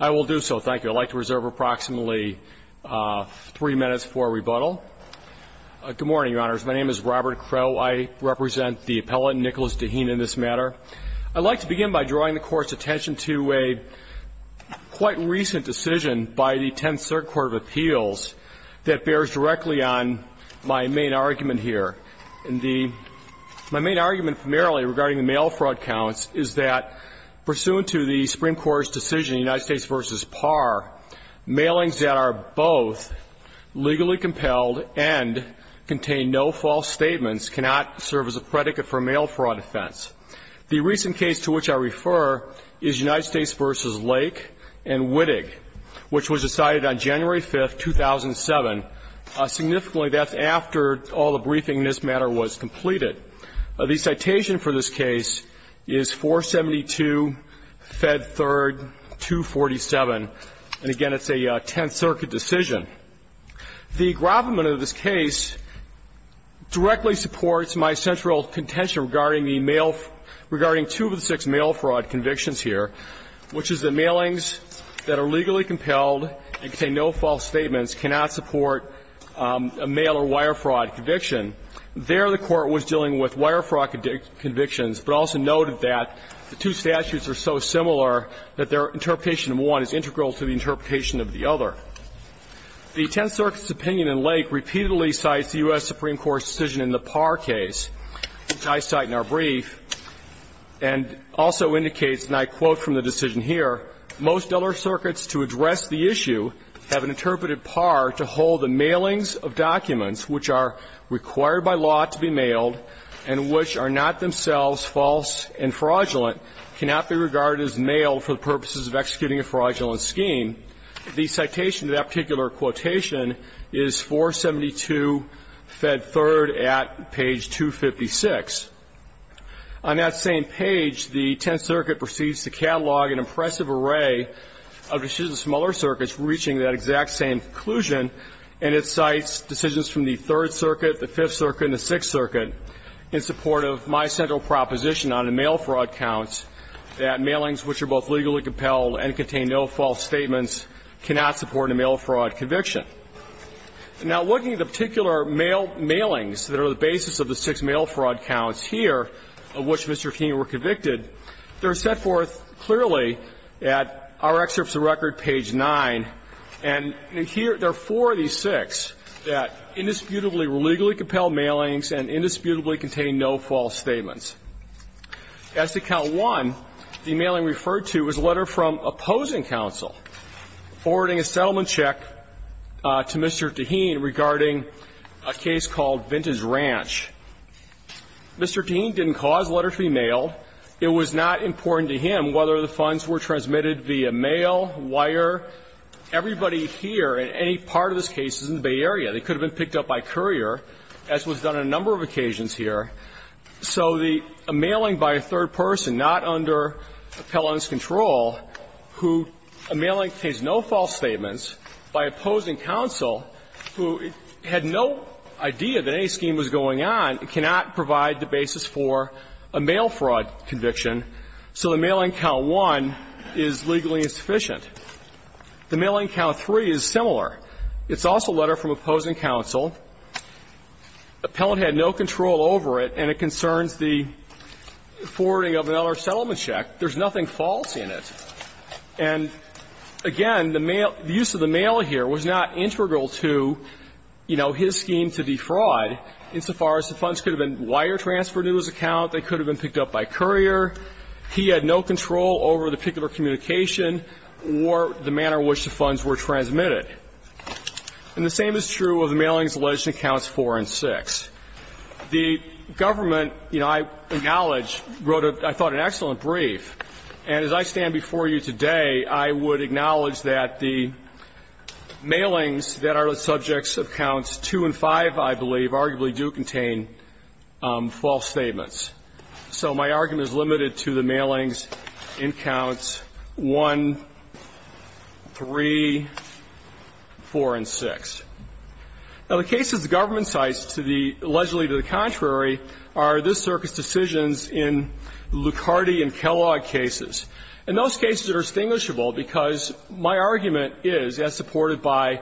I will do so. Thank you. I'd like to reserve approximately three minutes for rebuttal. Good morning, Your Honors. My name is Robert Crowe. I represent the appellate, Nicholas Tehin, in this matter. I'd like to begin by drawing the Court's attention to a quite recent decision by the Tenth Circuit Court of Appeals that bears directly on my main argument here. And the my main argument primarily regarding the mail fraud counts is that pursuant to the Supreme Court's decision, United States v. Parr, mailings that are both legally compelled and contain no false statements cannot serve as a predicate for a mail fraud offense. The recent case to which I refer is United States v. Lake and Wittig, which was decided on January 5th, 2007. Significantly, that's after all the briefing in this matter was completed. The citation for this case is 472, Fed 3rd, 247. And again, it's a Tenth Circuit decision. The gravamen of this case directly supports my central contention regarding the mail – regarding two of the six mail fraud convictions here, which is that mailings that are legally compelled and contain no false statements cannot support a mail or wire fraud conviction. There, the Court was dealing with wire fraud convictions, but also noted that the two statutes are so similar that their interpretation of one is integral to the interpretation of the other. The Tenth Circuit's opinion in Lake repeatedly cites the U.S. Supreme Court's decision in the Parr case, which I cite in our brief, and also indicates, and I quote from the issue, have an interpreted par to hold the mailings of documents which are required by law to be mailed and which are not themselves false and fraudulent cannot be regarded as mail for the purposes of executing a fraudulent scheme. The citation to that particular quotation is 472, Fed 3rd, at page 256. On that same page, the Tenth Circuit proceeds to catalog an impressive array of decisions from other circuits reaching that exact same conclusion, and it cites decisions from the Third Circuit, the Fifth Circuit, and the Sixth Circuit in support of my central proposition on the mail fraud counts, that mailings which are both legally compelled and contain no false statements cannot support a mail fraud conviction. Now, looking at the particular mailings that are the basis of the six mail fraud counts here of which Mr. Keene were convicted, they're set forth clearly at our excerpts of record, page 9, and in here, there are four of these six that indisputably were legally compelled mailings and indisputably contained no false statements. As to count one, the mailing referred to was a letter from opposing counsel forwarding a settlement check to Mr. Taheen regarding a case called Vintage Ranch. Mr. Taheen didn't cause the letter to be mailed. It was not important to him whether the funds were transmitted via mail, wire. Everybody here in any part of this case is in the Bay Area. They could have been picked up by courier, as was done on a number of occasions here. So the mailing by a third person, not under Appellant's control, who a mailing contains no false statements, by opposing counsel, who had no idea that any scheme was going on, it cannot provide the basis for a mail fraud conviction. So the mailing count one is legally insufficient. The mailing count three is similar. It's also a letter from opposing counsel. Appellant had no control over it, and it concerns the forwarding of another settlement check. There's nothing false in it. And, again, the mail – the use of the mail here was not integral to, you know, his scheme to defraud insofar as the funds could have been wire transferred to his account, they could have been picked up by courier. He had no control over the particular communication or the manner in which the funds were transmitted. And the same is true of the mailings alleged in accounts four and six. The government, you know, I acknowledge wrote a – I thought an excellent brief. And as I stand before you today, I would acknowledge that the mailings that are the subjects of counts two and five, I believe, arguably do contain false statements. So my argument is limited to the mailings in counts one, three, four, and six. Now, the cases the government cites to the – allegedly to the contrary are this in Lucardi and Kellogg cases. And those cases are distinguishable because my argument is, as supported by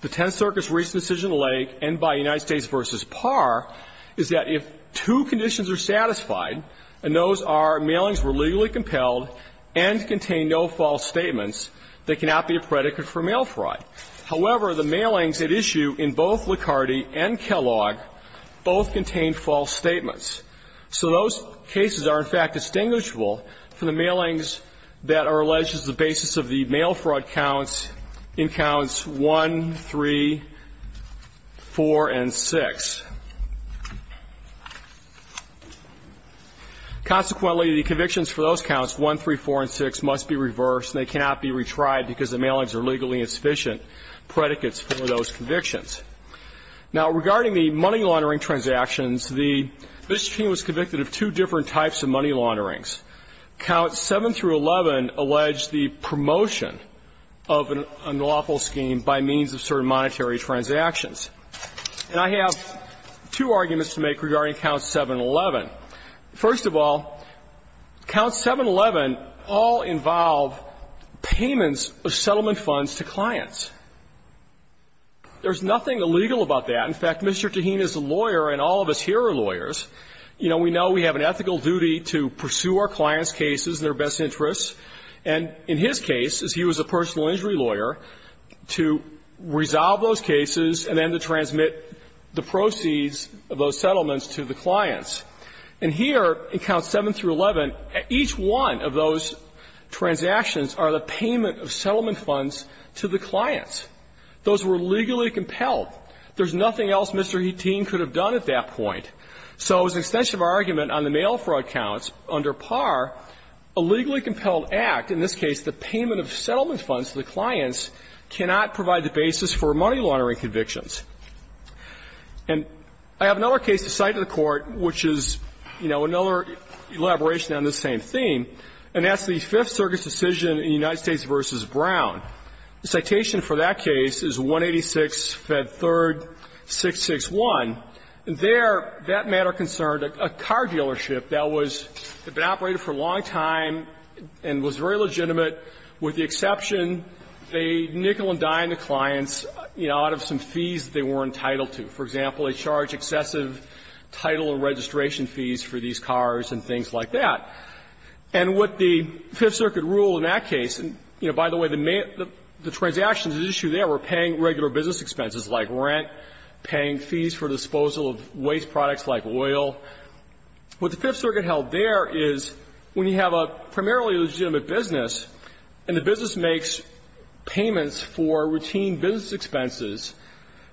the Tenth Circus Recent Decision Lake and by United States v. Parr, is that if two conditions are satisfied, and those are mailings were legally compelled and contained no false statements, there cannot be a predicate for mail fraud. However, the mailings at issue in both Lucardi and Kellogg both contain false statements. So those cases are, in fact, distinguishable from the mailings that are alleged as the basis of the mail fraud counts in counts one, three, four, and six. Consequently, the convictions for those counts, one, three, four, and six, must be Now, regarding the money laundering transactions, the – Mr. King was convicted of two different types of money launderings. Counts 7 through 11 allege the promotion of an unlawful scheme by means of certain monetary transactions. And I have two arguments to make regarding counts 7 and 11. First of all, counts 7 and 11 all involve payments of settlement funds to clients. There's nothing illegal about that. In fact, Mr. Tahin is a lawyer, and all of us here are lawyers. You know, we know we have an ethical duty to pursue our clients' cases and their best interests, and in his case, as he was a personal injury lawyer, to resolve those cases and then to transmit the proceeds of those settlements to the clients. And here, in counts 7 through 11, each one of those transactions are the payment of settlement funds to the clients. Those were legally compelled. There's nothing else Mr. Tahin could have done at that point. So as an extension of our argument on the mail fraud counts, under par, a legally compelled act, in this case the payment of settlement funds to the clients, cannot provide the basis for money laundering convictions. And I have another case to cite in the Court, which is, you know, another elaboration on this same theme. And that's the Fifth Circuit's decision in United States v. Brown. The citation for that case is 186, Fed 3rd, 661. There, that matter concerned a car dealership that was operated for a long time and was very legitimate, with the exception they nickel and dime the clients, you know, out of some fees they were entitled to. For example, they charge excessive title and registration fees for these cars and things like that. And what the Fifth Circuit ruled in that case, and, you know, by the way, the transactions at issue there were paying regular business expenses like rent, paying fees for disposal of waste products like oil. What the Fifth Circuit held there is when you have a primarily legitimate business and the business makes payments for routine business expenses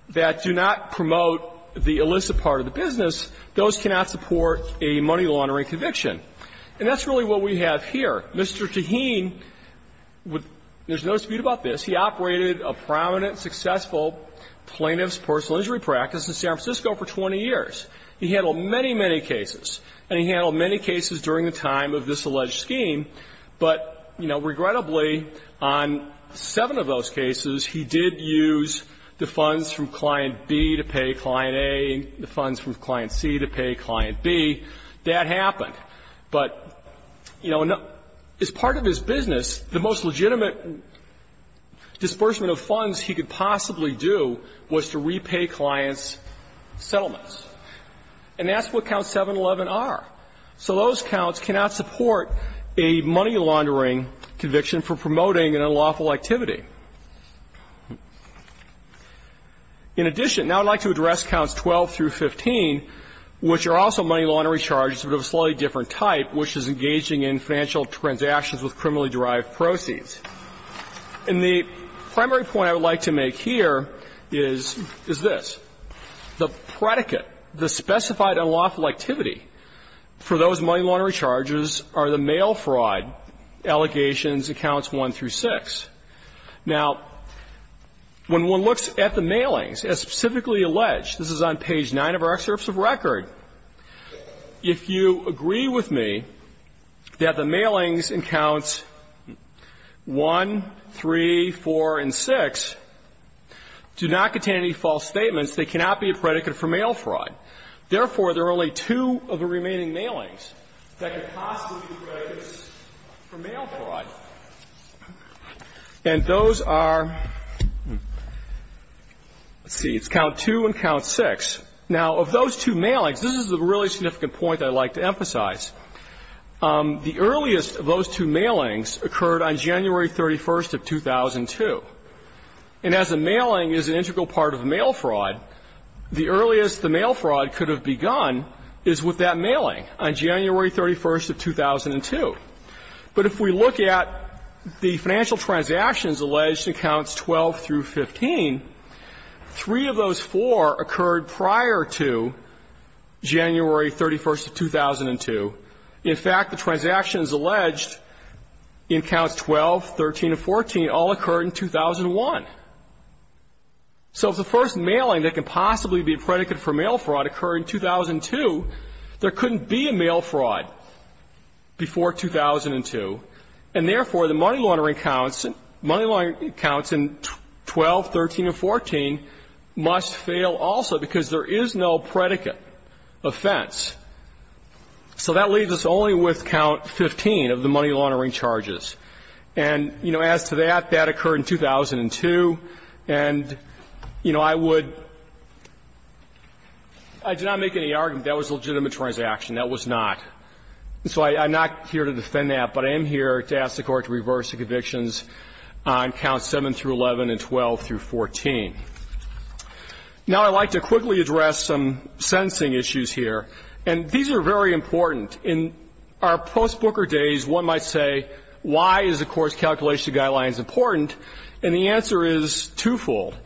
that do not promote the illicit part of the business, those cannot support a money laundering conviction. And that's really what we have here. Mr. Taheen, there's no dispute about this, he operated a prominent, successful plaintiff's personal injury practice in San Francisco for 20 years. He handled many, many cases, and he handled many cases during the time of this alleged scheme, but, you know, regrettably, on seven of those cases, he did use the funds from Client B to pay Client A, the funds from Client C to pay Client B. That happened. But, you know, as part of his business, the most legitimate disbursement of funds he could possibly do was to repay clients' settlements. And that's what Counts 711 are. So those counts cannot support a money laundering conviction for promoting an unlawful activity. In addition, now I'd like to address Counts 12 through 15, which are also money laundering charges, but of a slightly different type, which is engaging in financial transactions with criminally derived proceeds. And the primary point I would like to make here is this. The predicate, the specified unlawful activity for those money laundering charges are the mail fraud allegations in Counts 1 through 6. Now, when one looks at the mailings, as specifically alleged, this is on page 9 of our excerpts of record. If you agree with me that the mailings in Counts 1, 3, 4, and 6 do not contain any false statements, they cannot be a predicate for mail fraud. Therefore, there are only two of the remaining mailings that could possibly be predicates for mail fraud. And those are, let's see, it's Count 2 and Count 6. Now, of those two mailings, this is a really significant point that I'd like to emphasize. The earliest of those two mailings occurred on January 31st of 2002. And as a mailing is an integral part of mail fraud, the earliest the mail fraud could have begun is with that mailing on January 31st of 2002. But if we look at the financial transactions alleged in Counts 12 through 15, three of those four occurred prior to January 31st of 2002. In fact, the transactions alleged in Counts 12, 13, and 14 all occurred in 2001. So if the first mailing that could possibly be a predicate for mail fraud occurred in 2002, there couldn't be a mail fraud before 2002. And therefore, the money laundering counts in 12, 13, and 14 must fail also because there is no predicate offense. So that leaves us only with Count 15 of the money laundering charges. And, you know, as to that, that occurred in 2002. And, you know, I would do not make any argument that was a legitimate transaction. That was not. So I'm not here to defend that, but I am here to ask the Court to reverse the convictions on Counts 7 through 11 and 12 through 14. Now, I'd like to quickly address some sentencing issues here. And these are very important. In our post-Booker days, one might say, why is the Court's calculation of guidelines important? And the answer is twofold.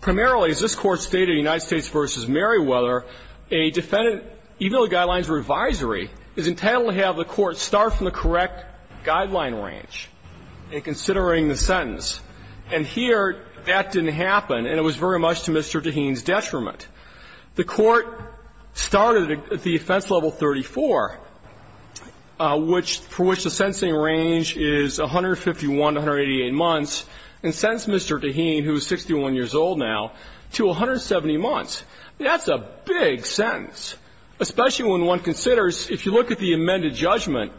Primarily, as this Court stated in United States v. Merriweather, a defendant, even though the guidelines were advisory, is entitled to have the Court start from the correct guideline range in considering the sentence. And here, that didn't happen, and it was very much to Mr. Taheen's detriment. The Court started the offense level 34, for which the sentencing range is 151 to 188 months, and sentenced Mr. Taheen, who is 61 years old now, to 170 months. That's a big sentence, especially when one considers, if you look at the amended judgment,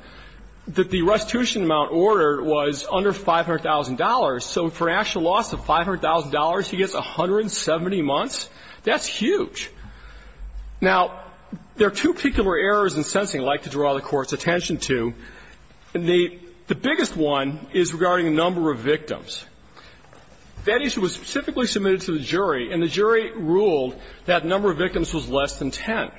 that the restitution amount ordered was under $500,000. So for an actual loss of $500,000, he gets 170 months? That's huge. Now, there are two particular errors in sentencing I'd like to draw the Court's attention to. The biggest one is regarding the number of victims. That issue was specifically submitted to the jury, and the jury ruled that the number of victims was less than 10.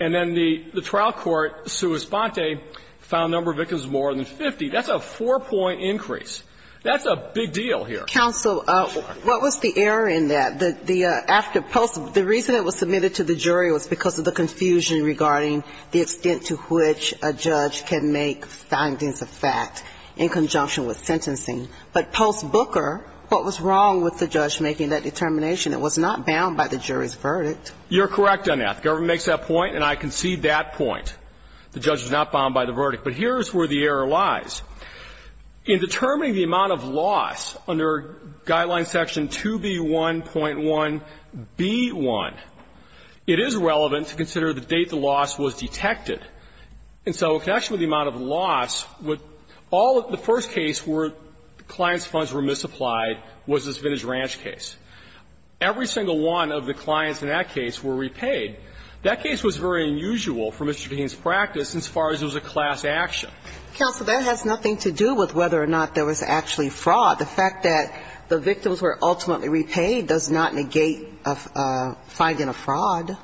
And then the trial court, sua sponte, found the number of victims more than 50. That's a four-point increase. That's a big deal here. Counsel, what was the error in that? The reason it was submitted to the jury was because of the confusion regarding the extent to which a judge can make findings of fact in conjunction with sentencing. But post Booker, what was wrong with the judge making that determination? It was not bound by the jury's verdict. You're correct on that. The government makes that point, and I concede that point. The judge was not bound by the verdict. But here's where the error lies. In determining the amount of loss under Guideline Section 2B1.1b1, it is relevant to consider the date the loss was detected. And so in connection with the amount of loss, all of the first case where the client's funds were misapplied was this Vintage Ranch case. Every single one of the clients in that case were repaid. That case was very unusual for Mr. Keene's practice as far as it was a class action. Counsel, that has nothing to do with whether or not there was actually fraud. The fact that the victims were ultimately repaid does not negate finding a fraud.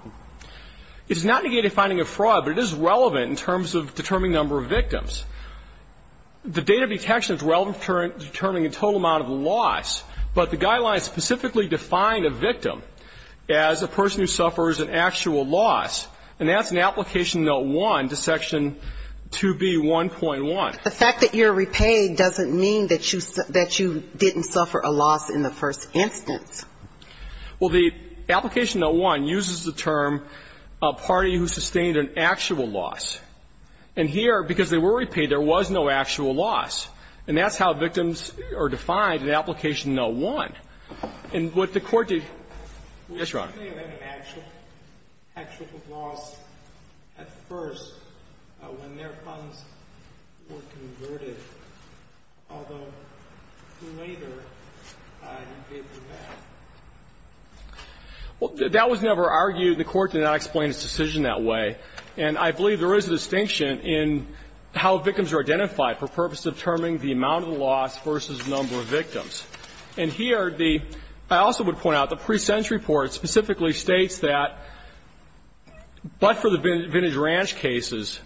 It does not negate finding a fraud, but it is relevant in terms of determining the number of victims. The date of detection is relevant to determining the total amount of loss. But the Guideline specifically defined a victim as a person who suffers an actual loss, and that's in Application Note 1 to Section 2B1.1. The fact that you're repaid doesn't mean that you didn't suffer a loss in the first instance. Well, the Application Note 1 uses the term a party who sustained an actual loss. And here, because they were repaid, there was no actual loss. And that's how victims are defined in Application Note 1. And what the Court did – yes, Your Honor. Well, that was never argued. The Court did not explain its decision that way. And I believe there is a distinction in how victims are identified for purposes of determining the amount of loss versus the number of victims. And here, the – I also would point out the pre-sentence report specifically states that, but for the Vintage Ranch case,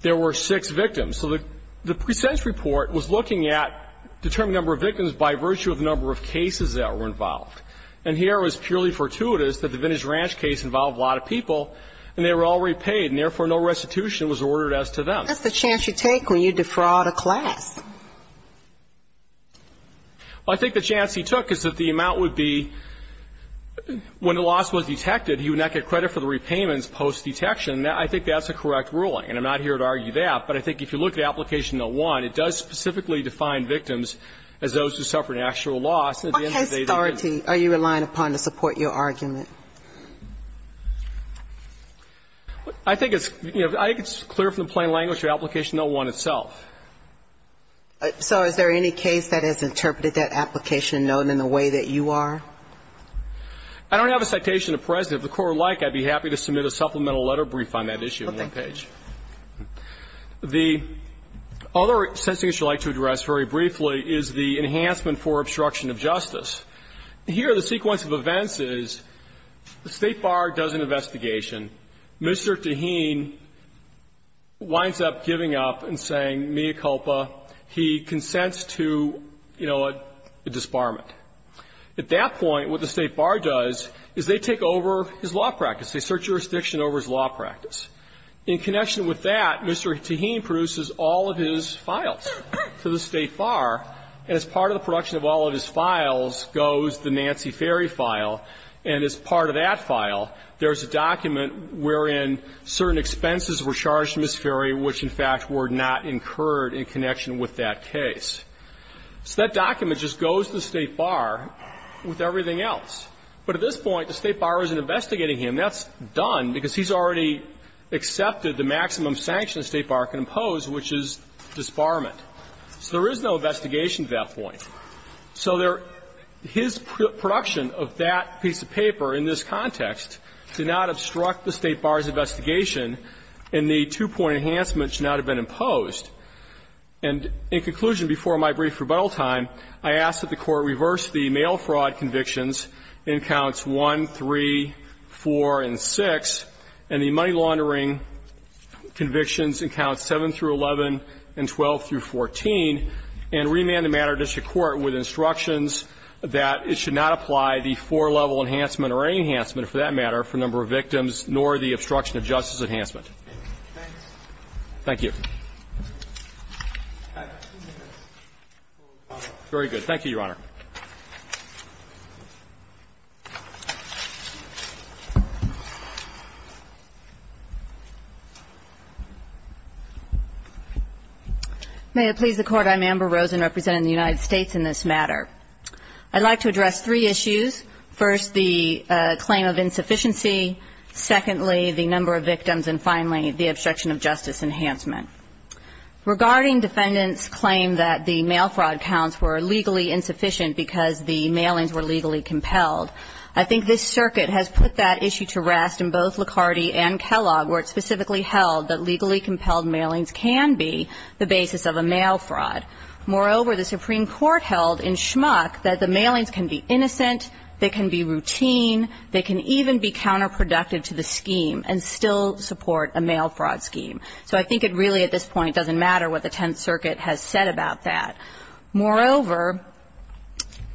there were six victims. So the pre-sentence report was looking at determining the number of victims by virtue of the number of cases that were involved. And here it was purely fortuitous that the Vintage Ranch case involved a lot of people, and they were all repaid, and therefore no restitution was ordered as to them. That's the chance you take when you defraud a class. Well, I think the chance he took is that the amount would be, when the loss was detected, he would not get credit for the repayments post-detection. I think that's a correct ruling, and I'm not here to argue that. But I think if you look at Application Note 1, it does specifically define victims as those who suffered an actual loss. And at the end of the day, they didn't. What case authority are you relying upon to support your argument? I think it's clear from the plain language of Application Note 1 itself. So is there any case that has interpreted that application note in the way that you are? I don't have a citation to present. If the Court would like, I'd be happy to submit a supplemental letter brief on that issue on that page. The other sentencing I'd like to address very briefly is the enhancement for obstruction of justice. Here, the sequence of events is the State Bar does an investigation. Mr. Taheen winds up giving up and saying, mea culpa, he consents to, you know, a disbarment. At that point, what the State Bar does is they take over his law practice. They search jurisdiction over his law practice. In connection with that, Mr. Taheen produces all of his files to the State Bar. And as part of the production of all of his files goes the Nancy Ferry file. And as part of that file, there's a document wherein certain expenses were charged to Ms. Ferry, which, in fact, were not incurred in connection with that case. So that document just goes to the State Bar with everything else. But at this point, the State Bar isn't investigating him. That's done because he's already accepted the maximum sanction the State Bar can impose, which is disbarment. So there is no investigation at that point. So there his production of that piece of paper in this context did not obstruct the State Bar's investigation, and the two-point enhancement should not have been imposed. And in conclusion, before my brief rebuttal time, I ask that the Court reverse the mail fraud convictions in counts 1, 3, 4, and 6, and the money laundering convictions in counts 7 through 11 and 12 through 14, and remand the matter to Shakur Court with instructions that it should not apply the four-level enhancement or any enhancement, for that matter, for number of victims nor the obstruction of justice enhancement. Thank you. Very good. Thank you, Your Honor. May it please the Court. I'm Amber Rosen representing the United States in this matter. I'd like to address three issues. First, the claim of insufficiency. Secondly, the number of victims. And finally, the obstruction of justice enhancement. Regarding defendants' claim that the mail fraud counts were legally insufficient because the mailings were legally compelled, I think this circuit has put that issue to rest in both Licardi and Kellogg, where it's specifically held that legally compelled mailings are not a legally compelled mail fraud. Moreover, the Supreme Court held in Schmuck that the mailings can be innocent, they can be routine, they can even be counterproductive to the scheme and still support a mail fraud scheme. So I think it really at this point doesn't matter what the Tenth Circuit has said about that. Moreover,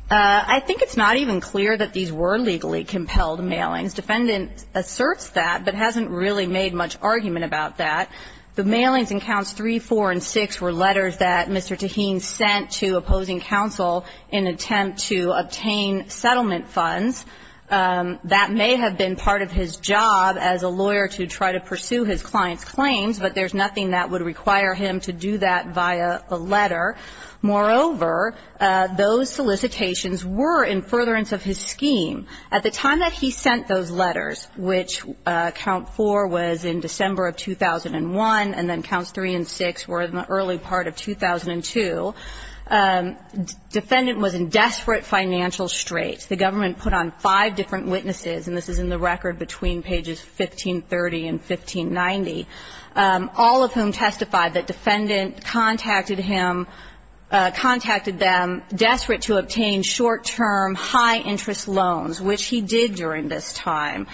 I think it's not even clear that these were legally compelled mailings. The defendant asserts that but hasn't really made much argument about that. The mailings in counts 3, 4, and 6 were letters that Mr. Taheen sent to opposing counsel in attempt to obtain settlement funds. That may have been part of his job as a lawyer to try to pursue his client's claims, but there's nothing that would require him to do that via a letter. Moreover, those solicitations were in furtherance of his scheme. At the time that he sent those letters, which count 4 was in December of 2001 and then counts 3 and 6 were in the early part of 2002, defendant was in desperate financial straits. The government put on five different witnesses, and this is in the record between pages 1530 and 1590, all of whom testified that defendant contacted him, contacted them, desperate to obtain short-term high-interest loans, which he did during this time.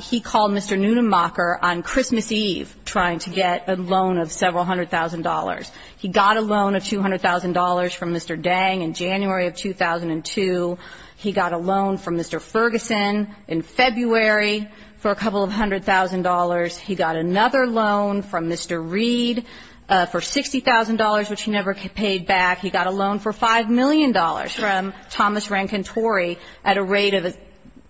He called Mr. Neunenmacher on Christmas Eve trying to get a loan of several hundred thousand dollars. He got a loan of $200,000 from Mr. Dang in January of 2002. He got a loan from Mr. Ferguson in February for a couple of hundred thousand dollars. He got another loan from Mr. Reed for $60,000, which he never paid back. He got a loan for $5 million from Thomas Rankin Torrey at a rate of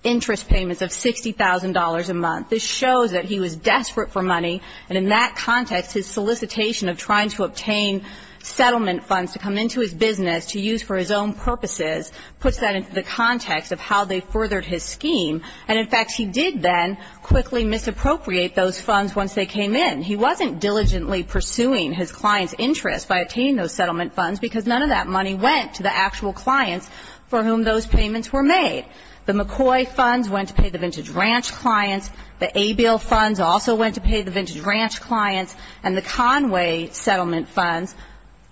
interest payments of $60,000 a month. This shows that he was desperate for money, and in that context, his solicitation of trying to obtain settlement funds to come into his business to use for his own purposes puts that into the context of how they furthered his scheme. And, in fact, he did then quickly misappropriate those funds once they came in. He wasn't diligently pursuing his client's interest by obtaining those settlement funds because none of that money went to the actual clients for whom those payments were made. The McCoy funds went to pay the Vintage Ranch clients. The Abiel funds also went to pay the Vintage Ranch clients. And the Conway settlement funds,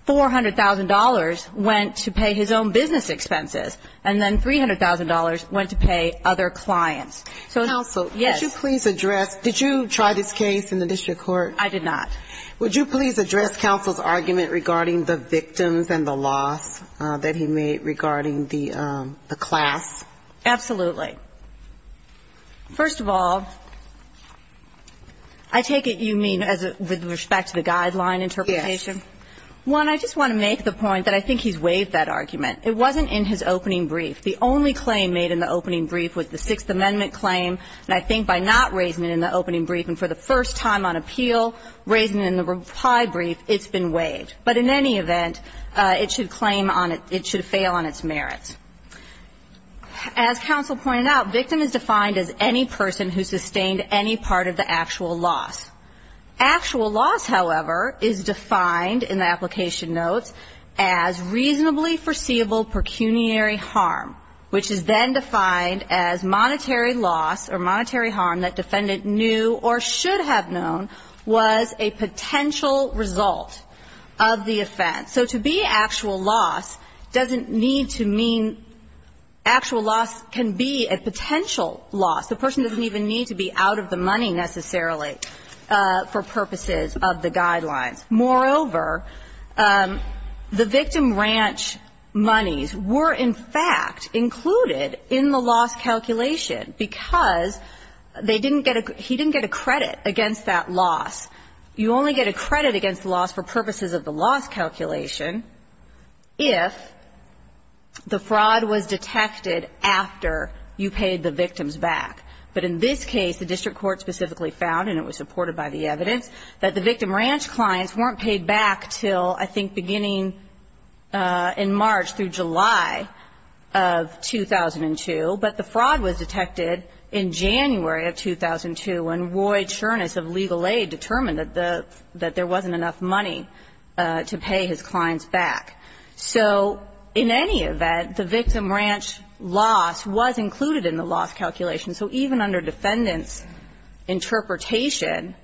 $400,000 went to pay his own business expenses, and then $300,000 went to pay other clients. So, yes. Kagan, would you please address – did you try this case in the district court? I did not. Would you please address counsel's argument regarding the victims and the loss that he made regarding the class? Absolutely. First of all, I take it you mean with respect to the guideline interpretation? Yes. One, I just want to make the point that I think he's waived that argument. It wasn't in his opening brief. The only claim made in the opening brief was the Sixth Amendment claim. And I think by not raising it in the opening brief and for the first time on appeal, raising it in the reply brief, it's been waived. But in any event, it should claim on – it should fail on its merits. As counsel pointed out, victim is defined as any person who sustained any part of the actual loss. Actual loss, however, is defined in the application notes as reasonably foreseeable pecuniary harm, which is then defined as monetary loss or monetary harm that defendant knew or should have known was a potential result of the offense. So to be actual loss doesn't need to mean – actual loss can be a potential loss. The person doesn't even need to be out of the money necessarily for purposes of the guidelines. Moreover, the victim ranch monies were, in fact, included in the loss calculation because they didn't get a – he didn't get a credit against that loss. You only get a credit against the loss for purposes of the loss calculation if the fraud was detected after you paid the victims back. But in this case, the district court specifically found, and it was supported by the evidence, that the victim ranch clients weren't paid back until, I think, beginning in March through July of 2002. But the fraud was detected in January of 2002 when Roy Cherness of Legal Aid determined that the – that there wasn't enough money to pay his clients back. So in any event, the victim ranch loss was included in the loss calculation. So even under defendant's interpretation,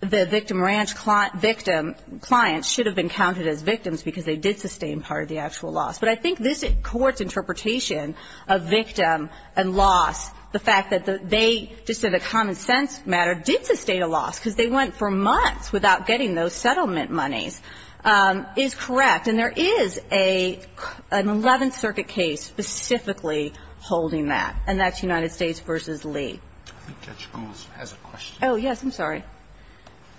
the victim ranch client should have been counted as victims because they did sustain part of the actual loss. But I think this Court's interpretation of victim and loss, the fact that they, just as a common sense matter, did sustain a loss because they went for months without getting those settlement monies, is correct. And there is an Eleventh Circuit case specifically holding that, and that's United States versus Lee. Roberts. I think Judge Schools has a question. Oh, yes. I'm sorry.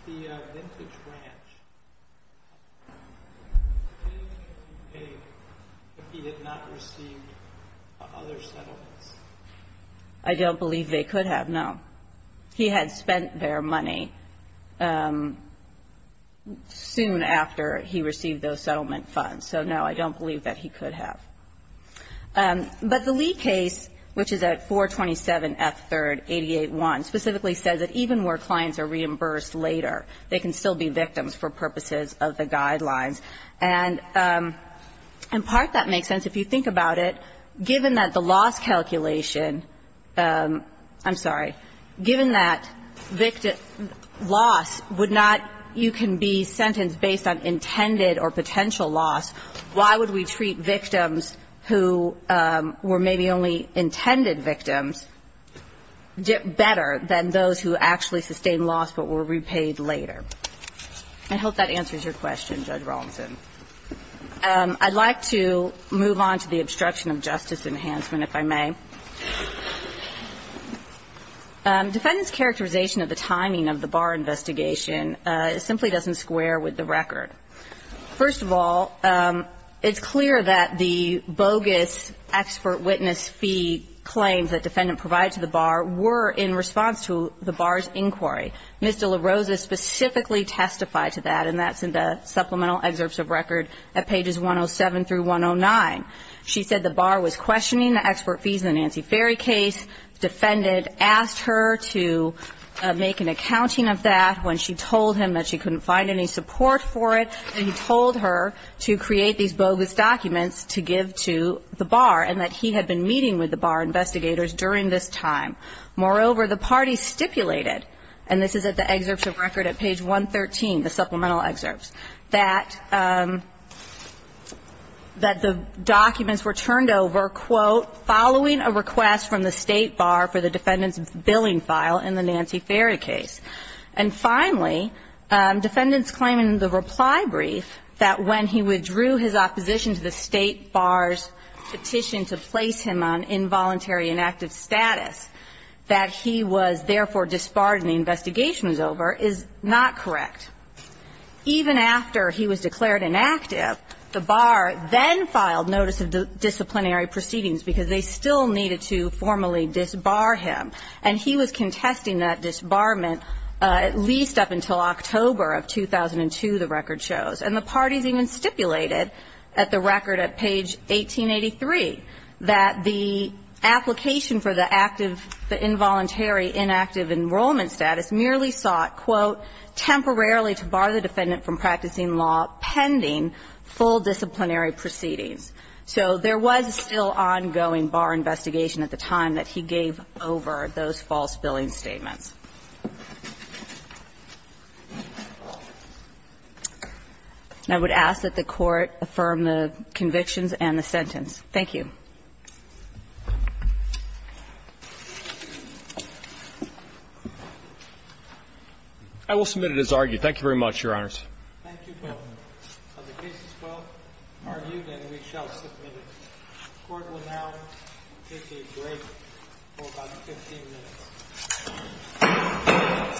The vintage ranch, did he pay if he did not receive other settlements? I don't believe they could have, no. He had spent their money soon after he received those settlement funds. So, no, I don't believe that he could have. But the Lee case, which is at 427F3 88-1, specifically says that even where clients are reimbursed later, they can still be victims for purposes of the guidelines. And in part that makes sense. If you think about it, given that the loss calculation – I'm sorry. Given that loss would not – you can be sentenced based on intended or potential loss, why would we treat victims who were maybe only intended victims better than those who actually sustained loss but were repaid later? I hope that answers your question, Judge Rawlinson. I'd like to move on to the obstruction of justice enhancement, if I may. Defendant's characterization of the timing of the bar investigation simply doesn't square with the record. First of all, it's clear that the bogus expert witness fee claims that defendant provided to the bar were in response to the bar's inquiry. Ms. De La Rosa specifically testified to that, and that's in the supplemental excerpts of record at pages 107 through 109. She said the bar was questioning the expert fees in the Nancy Ferry case. Defendant asked her to make an accounting of that when she told him that she told her to create these bogus documents to give to the bar, and that he had been meeting with the bar investigators during this time. Moreover, the party stipulated – and this is at the excerpts of record at page 113, the supplemental excerpts – that the documents were turned over, quote, following a request from the state bar for the defendant's billing file in the Nancy Ferry case. And finally, defendant's claim in the reply brief that when he withdrew his opposition to the state bar's petition to place him on involuntary inactive status that he was therefore disbarred and the investigation was over is not correct. Even after he was declared inactive, the bar then filed notice of disciplinary proceedings because they still needed to formally disbar him. And he was contesting that disbarment at least up until October of 2002, the record shows. And the parties even stipulated at the record at page 1883 that the application for the active, the involuntary inactive enrollment status merely sought, quote, temporarily to bar the defendant from practicing law pending full disciplinary proceedings. So there was still ongoing bar investigation at the time that he gave over those false billing statements. And I would ask that the Court affirm the convictions and the sentence. Thank you. I will submit it as argued. Thank you very much, Your Honors. Thank you both. The case is well argued and we shall submit it. The Court will now take a break for about 15 minutes.